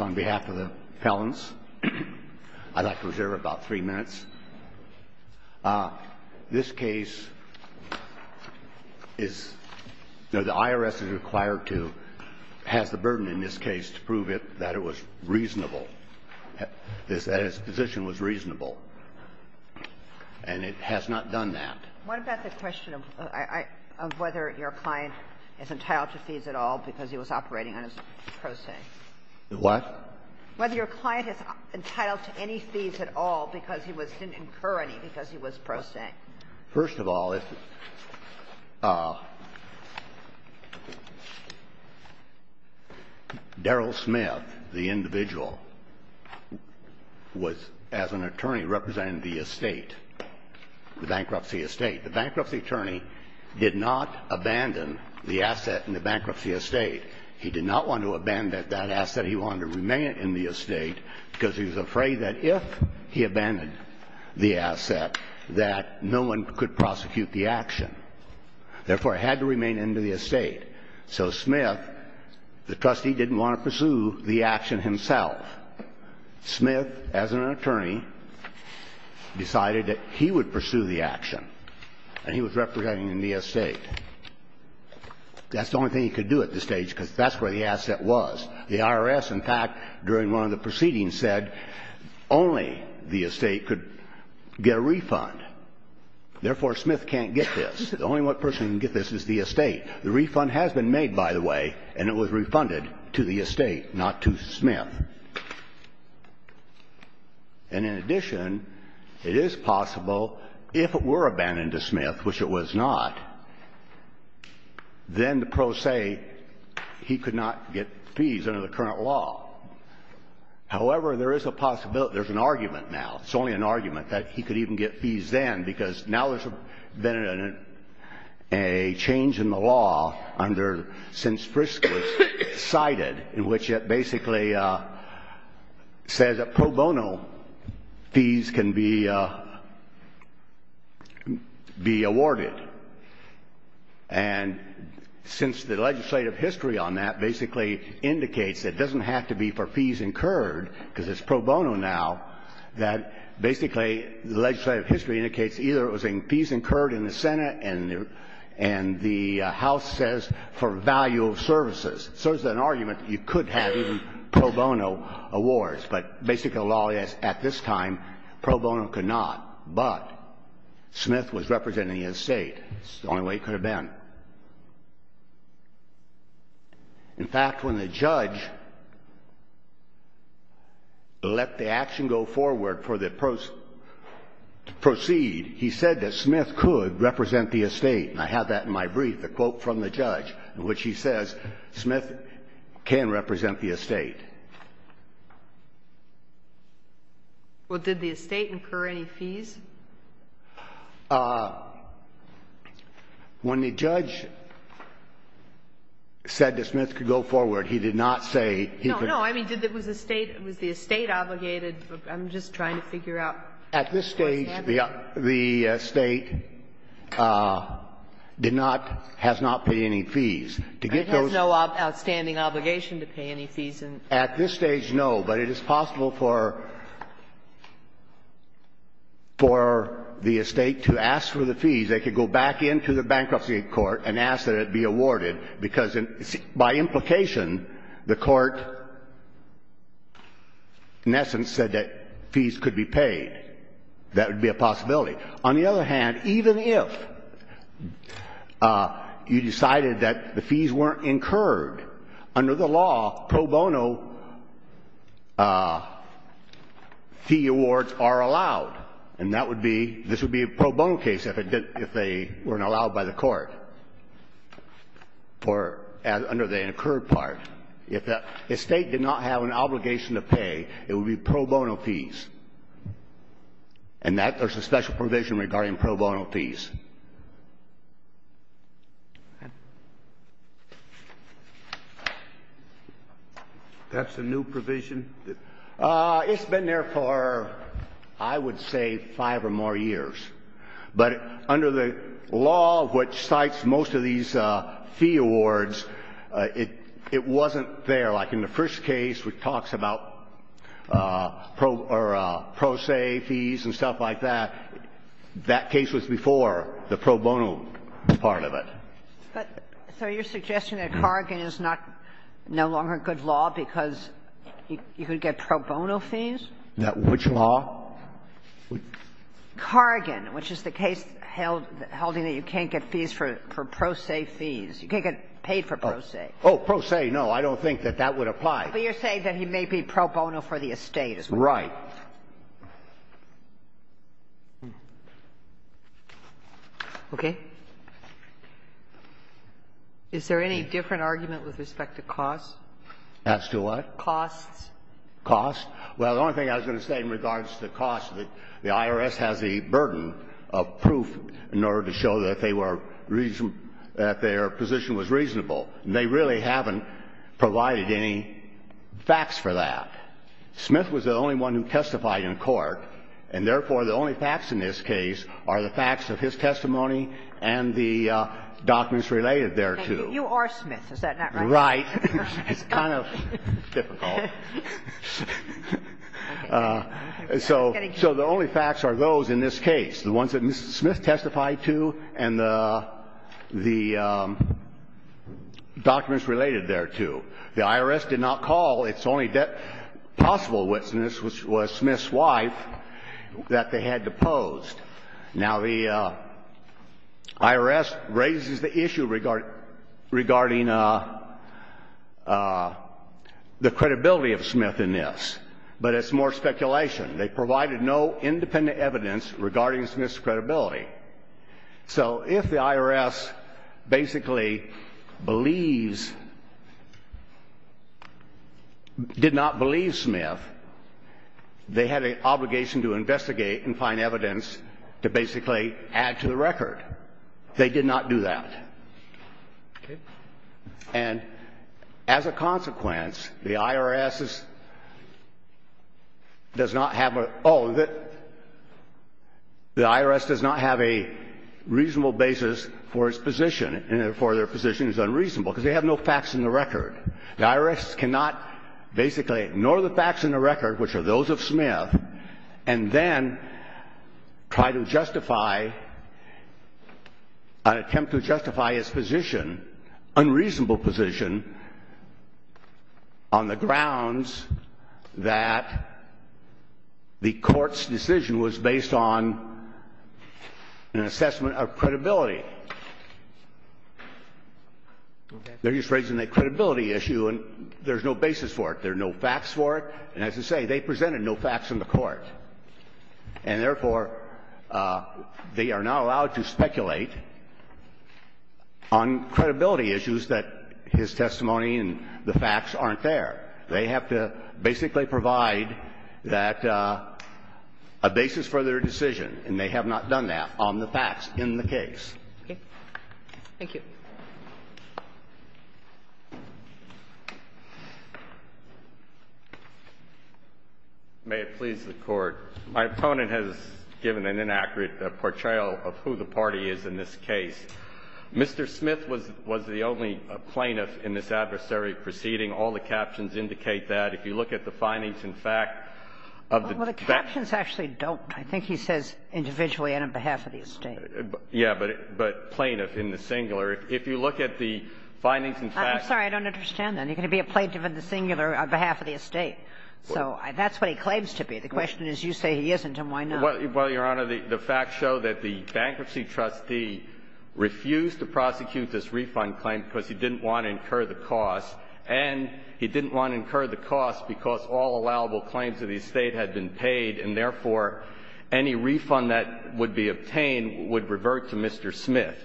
on behalf of the Pellants. I'd like to reserve about 3 minutes. This case is, the IRS is required to, has the burden in this case to prove it, that it was reasonable, that his position was reasonable. And it has not done that. What about the question of whether your client is entitled to fees at all because he was didn't incur any because he was prostate? First of all, if Darrel Smith, the individual, was, as an attorney, representing the estate, the bankruptcy estate, the bankruptcy attorney did not abandon the asset in the estate because he was afraid that if he abandoned the asset that no one could prosecute the action. Therefore, it had to remain in the estate. So Smith, the trustee, didn't want to pursue the action himself. Smith, as an attorney, decided that he would pursue the action. And he was representing the estate. That's the only thing he could do at this stage because that's where the IRS, in fact, during one of the proceedings said only the estate could get a refund. Therefore, Smith can't get this. The only one person who can get this is the estate. The refund has been made, by the way, and it was refunded to the estate, not to Smith. And in addition, it is possible if it were abandoned to Smith, which it was not, then the pros say he could not get fees under the current law. However, there is a possibility, there's an argument now, it's only an argument, that he could even get fees then because now there's been a change in the law under, since Frisco was cited, in which it basically says that pro bono fees can be awarded. And since the legislative history on that basically indicates that it doesn't have to be for fees incurred because it's pro bono now, that basically the legislative history indicates either it So there's an argument that you could have even pro bono awards, but basically the law at this time, pro bono could not, but Smith was representing the estate. It's the only way it could have been. In fact, when the judge let the action go forward for the proceed, he said that Smith could represent the estate. And I have that in my brief, the quote from the judge, in which he says Smith can represent the estate. Well, did the estate incur any fees? When the judge said that Smith could go forward, he did not say he could. No, no. I mean, did the estate, was the estate obligated? I'm just trying to figure out what's happening. At this stage, the estate did not, has not paid any fees. And it has no outstanding obligation to pay any fees? At this stage, no. But it is possible for the estate to ask for the fees. They could go back into the bankruptcy court and ask that it be awarded, because by implication, the court, in essence, said that fees could be paid. That would be a possibility. On the other hand, even if you decided that the fees weren't incurred, under the law, pro bono fee awards are allowed. And that would be, this would be a pro bono case if they weren't allowed by the court. For, under the incurred part. If the estate did not have an obligation to pay, it would be pro bono fees. And that, there's a special provision regarding pro bono fees. That's a new provision? It's been there for, I would say, five or more years. But under the law which cites most of these fee awards, it wasn't there. Like in the first case which talks about pro se fees and stuff like that, that case was before the pro bono part of it. But, so you're suggesting that Corrigan is not, no longer a good law because you could get pro bono fees? Which law? Corrigan, which is the case held, holding that you can't get fees for pro se fees. You can't get paid for pro se. Oh, pro se, no. I don't think that that would apply. But you're saying that he may be pro bono for the estate as well. Right. Okay. Is there any different argument with respect to costs? As to what? Costs. Costs. Well, the only thing I was going to say in regards to costs, the IRS has a burden of proof in order to show that they were reasonable, that their position was reasonable. They really haven't provided any facts for that. Smith was the only one who testified in court, and therefore the only facts in this case are the facts of his testimony and the documents related thereto. You are Smith. Is that not right? Right. It's kind of difficult. So the only facts are those in this case, the ones that Mr. Smith testified to and the documents related thereto. The IRS did not call. It's only possible witness was Smith's wife that they had deposed. Now, the IRS raises the issue regarding the credibility of Smith in this. But it's more speculation. They provided no independent evidence regarding Smith's credibility. So if the IRS basically believes, did not believe Smith, they had an obligation to investigate and find evidence to basically add to the record. They did not do that. And as a consequence, the IRS does not have a reasonable basis for its position and therefore their position is unreasonable because they have no facts in the record. The IRS cannot basically ignore the facts in the record, which are those of Smith, and then try to justify an attempt to justify its position, unreasonable position, on the grounds that the Court's decision was based on an assessment of credibility. They're just raising the credibility issue and there's no basis for it. There are no facts for it. And as I say, they presented no facts in the Court. And therefore, they are not allowed to speculate on credibility issues that his testimony and the facts aren't there. They have to basically provide that a basis for their decision, and they have not done that, on the facts in the case. Okay. Thank you. May it please the Court. My opponent has given an inaccurate portrayal of who the party is in this case. Mr. Smith was the only plaintiff in this adversary proceeding. All the captions indicate that. If you look at the findings in fact of the defense. Well, the captions actually don't. I think he says individually and on behalf of the estate. Yeah, but plaintiff in the singular. If you look at the findings in fact. I'm sorry. I don't understand that. He's going to be a plaintiff in the singular on behalf of the estate. So that's what he claims to be. The question is you say he isn't and why not? Well, Your Honor, the facts show that the bankruptcy trustee refused to prosecute this refund claim because he didn't want to incur the cost, and he didn't want to incur the cost because all allowable claims of the estate had been paid, and therefore any refund that would be obtained would revert to Mr. Smith.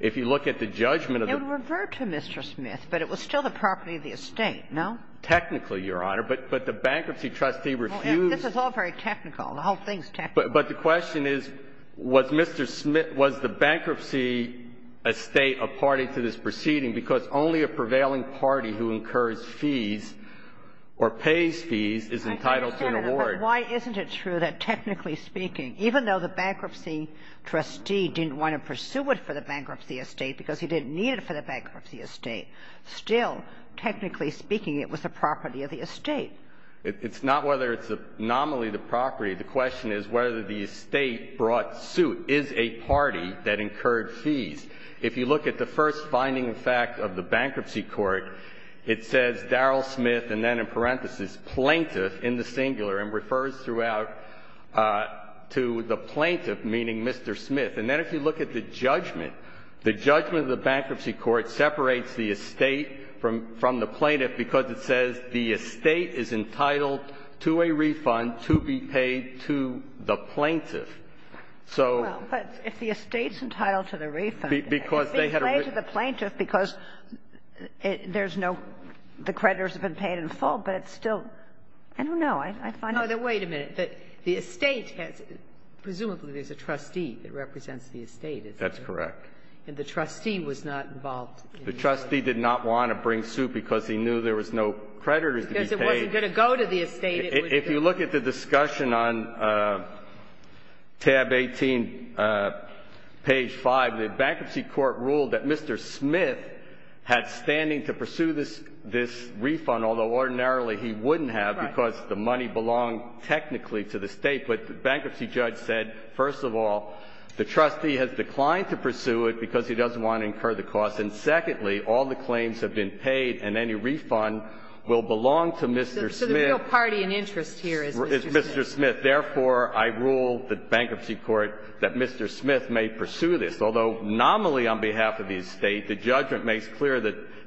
If you look at the judgment of the. It would revert to Mr. Smith, but it was still the property of the estate, no? Technically, Your Honor. But the bankruptcy trustee refused. This is all very technical. The whole thing is technical. But the question is was Mr. Smith, was the bankruptcy estate a party to this proceeding because only a prevailing party who incurs fees or pays fees is entitled to an award. But why isn't it true that, technically speaking, even though the bankruptcy trustee didn't want to pursue it for the bankruptcy estate because he didn't need it for the bankruptcy estate, still, technically speaking, it was the property of the estate? It's not whether it's nominally the property. The question is whether the estate brought suit. Is a party that incurred fees. If you look at the first finding of fact of the bankruptcy court, it says Daryl Smith, and then in parentheses, plaintiff, in the singular, and refers throughout to the plaintiff, meaning Mr. Smith. And then if you look at the judgment, the judgment of the bankruptcy court separates the estate from the plaintiff because it says the estate is entitled to a refund to be paid to the plaintiff. So they had a refund. But if the estate's entitled to the refund, it's being paid to the plaintiff because there's no ---- the creditors have been paid in full, but it's still ---- I don't know. I find it ---- No. Wait a minute. The estate has ---- presumably there's a trustee that represents the estate. That's correct. And the trustee was not involved. The trustee did not want to bring suit because he knew there was no creditors to be paid. Because it wasn't going to go to the estate. If you look at the discussion on tab 18, page 5, the bankruptcy court ruled that Mr. Smith had standing to pursue this refund, although ordinarily he wouldn't have because the money belonged technically to the estate. But the bankruptcy judge said, first of all, the trustee has declined to pursue it because he doesn't want to incur the cost. And secondly, all the claims have been paid and any refund will belong to Mr. Smith. So the real party in interest here is Mr. Smith. Is Mr. Smith. Therefore, I rule the bankruptcy court that Mr. Smith may pursue this. Although nominally on behalf of the estate, the judgment makes clear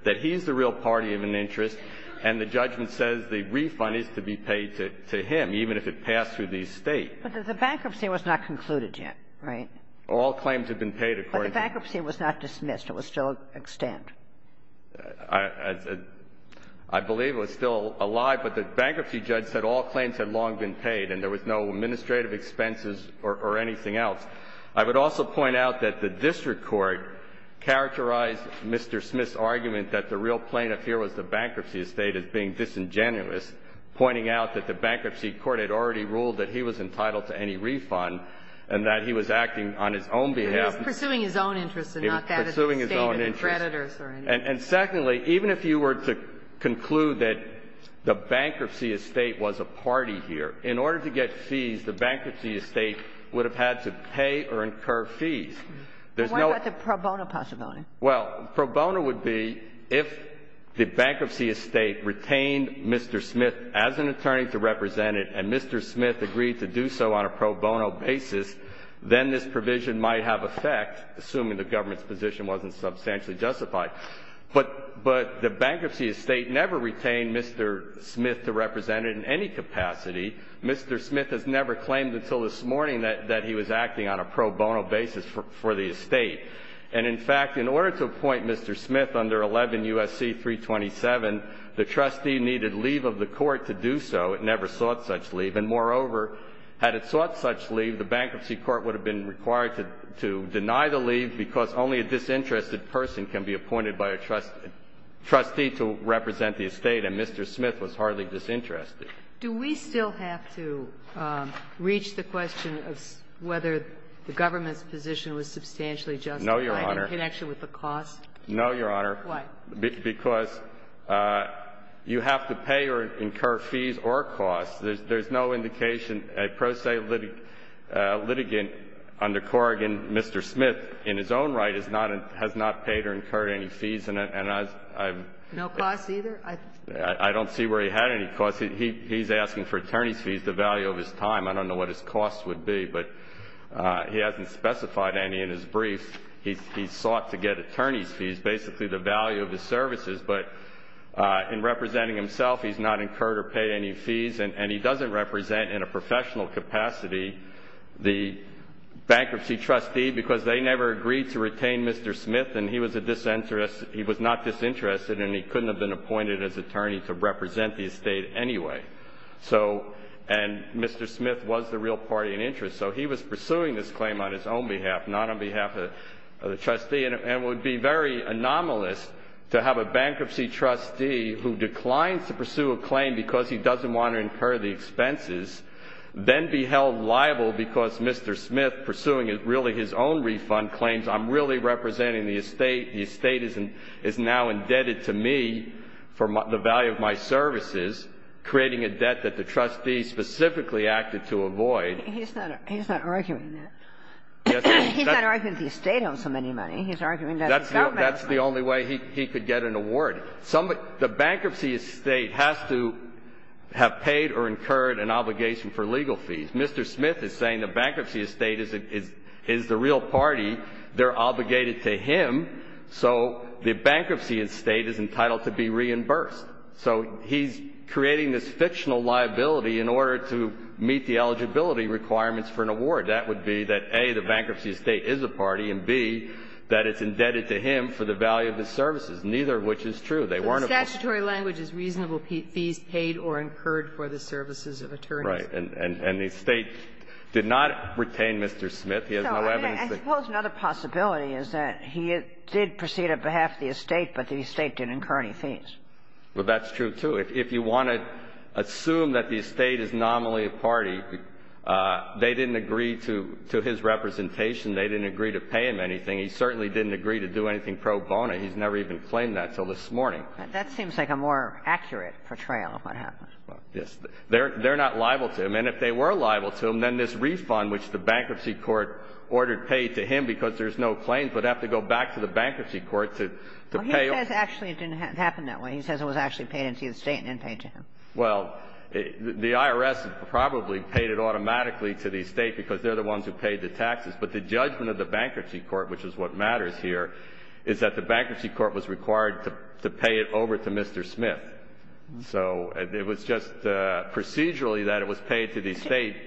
that he's the real party of an interest, and the judgment says the refund is to be paid to him, even if it passed through the estate. But the bankruptcy was not concluded yet, right? All claims have been paid, according to the court. But the bankruptcy was not dismissed. It was still extant. I believe it was still alive, but the bankruptcy judge said all claims had long been paid and there was no administrative expenses or anything else. I would also point out that the district court characterized Mr. Smith's argument that the real plaintiff here was the bankruptcy estate as being disingenuous, pointing out that the bankruptcy court had already ruled that he was entitled to any refund and that he was acting on his own behalf. He was pursuing his own interest and not that of the estate or the creditors or anything. And secondly, even if you were to conclude that the bankruptcy estate was a party here, in order to get fees, the bankruptcy estate would have had to pay or incur fees. There's no ---- But what about the pro bono possibility? Well, pro bono would be if the bankruptcy estate retained Mr. Smith as an attorney to represent it and Mr. Smith agreed to do so on a pro bono basis, then this provision might have effect, assuming the government's position wasn't substantially justified. But the bankruptcy estate never retained Mr. Smith to represent it in any capacity. Mr. Smith has never claimed until this morning that he was acting on a pro bono basis for the estate. And, in fact, in order to appoint Mr. Smith under 11 U.S.C. 327, the trustee needed leave of the court to do so. It never sought such leave. And, moreover, had it sought such leave, the bankruptcy court would have been appointed by a trustee to represent the estate, and Mr. Smith was hardly disinterested. Do we still have to reach the question of whether the government's position was substantially justified in connection with the cost? No, Your Honor. No, Your Honor. Why? Because you have to pay or incur fees or costs. There's no indication, a pro se litigant under Corrigan, Mr. Smith, in his own right, has not paid or incurred any fees. No costs either? I don't see where he had any costs. He's asking for attorney's fees, the value of his time. I don't know what his costs would be, but he hasn't specified any in his brief. He sought to get attorney's fees, basically the value of his services. But in representing himself, he's not incurred or paid any fees, and he doesn't represent in a professional capacity the bankruptcy trustee because they never agreed to retain Mr. Smith, and he was not disinterested, and he couldn't have been appointed as attorney to represent the estate anyway. And Mr. Smith was the real party in interest, so he was pursuing this claim on his own behalf, not on behalf of the trustee, and it would be very anomalous to have a bankruptcy trustee who declines to pursue a claim because he doesn't want to incur the expenses, then be held liable because Mr. Smith, pursuing really his own refund claims, I'm really representing the estate. The estate is now indebted to me for the value of my services, creating a debt that the trustee specifically acted to avoid. He's not arguing that. He's not arguing that the estate owes him any money. He's arguing that the government owes money. That's the only way he could get an award. The bankruptcy estate has to have paid or incurred an obligation for legal fees. Mr. Smith is saying the bankruptcy estate is the real party. They're obligated to him, so the bankruptcy estate is entitled to be reimbursed. So he's creating this fictional liability in order to meet the eligibility requirements for an award. That would be that, A, the bankruptcy estate is a party, and, B, that it's indebted to him for the value of his services. Neither of which is true. They weren't able to do that. Kagan. Statutory language is reasonable fees paid or incurred for the services of attorneys. Right. And the estate did not retain Mr. Smith. He has no evidence that he did. And suppose another possibility is that he did proceed on behalf of the estate, but the estate didn't incur any fees. Well, that's true, too. If you want to assume that the estate is nominally a party, they didn't agree to his representation. They didn't agree to pay him anything. He certainly didn't agree to do anything pro bono. He's never even claimed that until this morning. That seems like a more accurate portrayal of what happened. Yes. They're not liable to him. And if they were liable to him, then this refund, which the bankruptcy court ordered paid to him because there's no claim, would have to go back to the bankruptcy court to pay. Well, he says actually it didn't happen that way. He says it was actually paid into the estate and then paid to him. Well, the IRS probably paid it automatically to the estate because they're the ones who paid the taxes. But the judgment of the bankruptcy court, which is what matters here, is that the bankruptcy court was required to pay it over to Mr. Smith. So it was just procedurally that it was paid to the estate,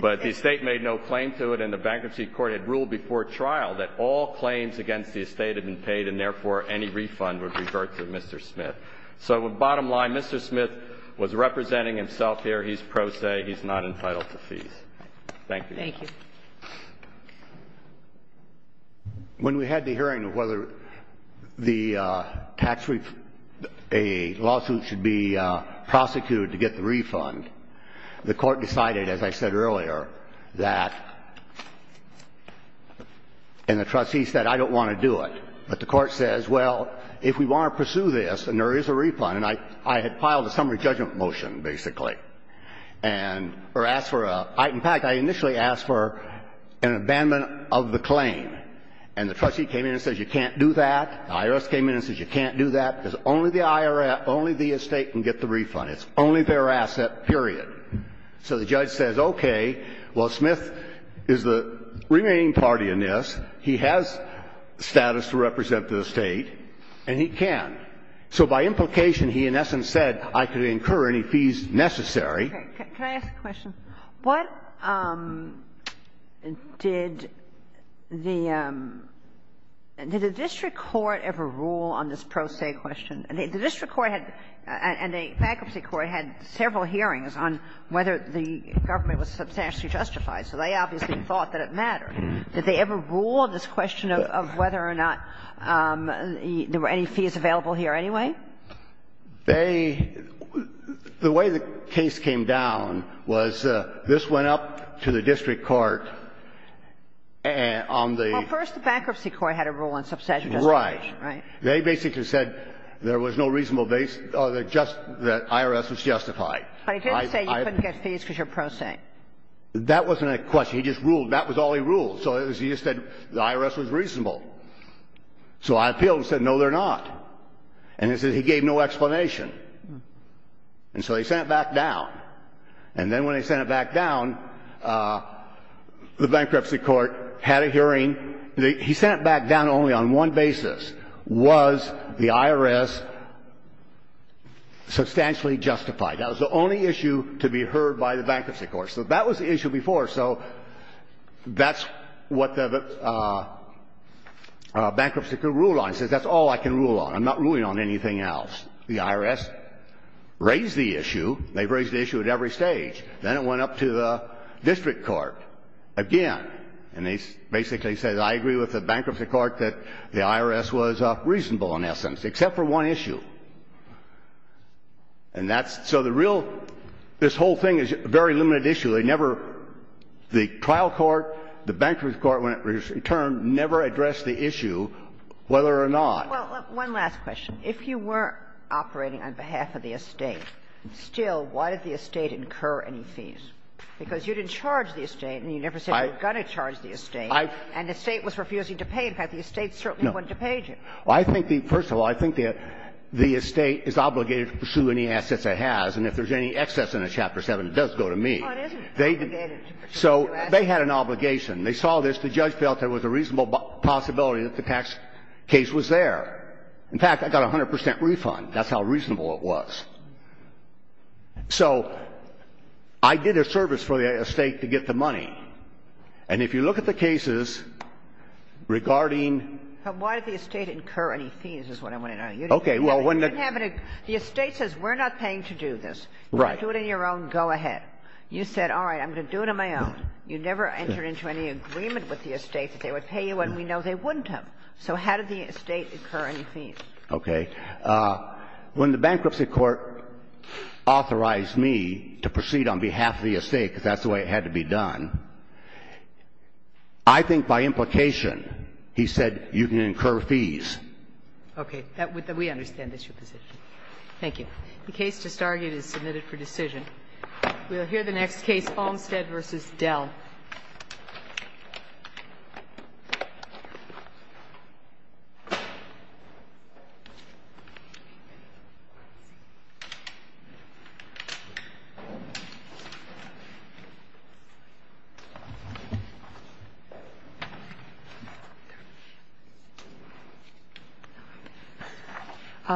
but the estate made no claim to it and the bankruptcy court had ruled before trial that all claims against the estate had been paid and, therefore, any refund would revert to Mr. Smith. So bottom line, Mr. Smith was representing himself here. He's pro se. He's not entitled to fees. Thank you. Thank you. When we had the hearing of whether the tax refund, a lawsuit should be prosecuted to get the refund, the Court decided, as I said earlier, that, and the trustee said, I don't want to do it. But the Court says, well, if we want to pursue this and there is a refund, and I had filed a summary judgment motion, basically, and or asked for a – in fact, I initially asked for an abandonment of the claim. And the trustee came in and said, you can't do that. The IRS came in and said, you can't do that, because only the IRS, only the estate can get the refund. It's only fair asset, period. So the judge says, okay, well, Smith is the remaining party in this. He has status to represent the estate, and he can. So by implication, he, in essence, said, I could incur any fees necessary. Can I ask a question? What did the – did the district court ever rule on this pro se question? The district court and the bankruptcy court had several hearings on whether the government was substantially justified, so they obviously thought that it mattered. Did they ever rule on this question of whether or not there were any fees available here anyway? They – the way the case came down was, this went up to the district court on the – Well, first the bankruptcy court had a rule on subsidiarity. Right. Right. They basically said there was no reasonable – that IRS was justified. But he didn't say you couldn't get fees because you're pro se. That wasn't a question. He just ruled. That was all he ruled. So he just said the IRS was reasonable. So I appealed and said, no, they're not. And he said he gave no explanation. And so they sent it back down. And then when they sent it back down, the bankruptcy court had a hearing. He sent it back down only on one basis. Was the IRS substantially justified? That was the only issue to be heard by the bankruptcy court. So that was the issue before, so that's what the bankruptcy court ruled on. The IRS says that's all I can rule on. I'm not ruling on anything else. The IRS raised the issue. They've raised the issue at every stage. Then it went up to the district court again. And they basically said, I agree with the bankruptcy court that the IRS was reasonable in essence, except for one issue. And that's – so the real – this whole thing is a very limited issue. They never – the trial court, the bankruptcy court, in turn, never addressed the issue, whether or not – Well, one last question. If you were operating on behalf of the estate, still, why did the estate incur any fees? Because you didn't charge the estate and you never said you were going to charge the estate, and the estate was refusing to pay. In fact, the estate certainly wanted to pay you. No. I think the – first of all, I think that the estate is obligated to pursue any assets it has, and if there's any excess in Chapter 7, it does go to me. No, it isn't obligated to pursue any assets. So they had an obligation. They saw this. The judge felt there was a reasonable possibility that the tax case was there. In fact, I got a 100 percent refund. That's how reasonable it was. So I did a service for the estate to get the money. And if you look at the cases regarding – But why did the estate incur any fees is what I want to know. Okay. Well, when the – You didn't have any – the estate says we're not paying to do this. Right. Do it on your own. Go ahead. You said, all right, I'm going to do it on my own. You never entered into any agreement with the estate that they would pay you, and we know they wouldn't have. So how did the estate incur any fees? Okay. When the Bankruptcy Court authorized me to proceed on behalf of the estate, because that's the way it had to be done, I think by implication he said you can incur fees. Okay. We understand that's your position. Thank you. The case just argued is submitted for decision. We'll hear the next case, Olmstead v. Dell. Okay.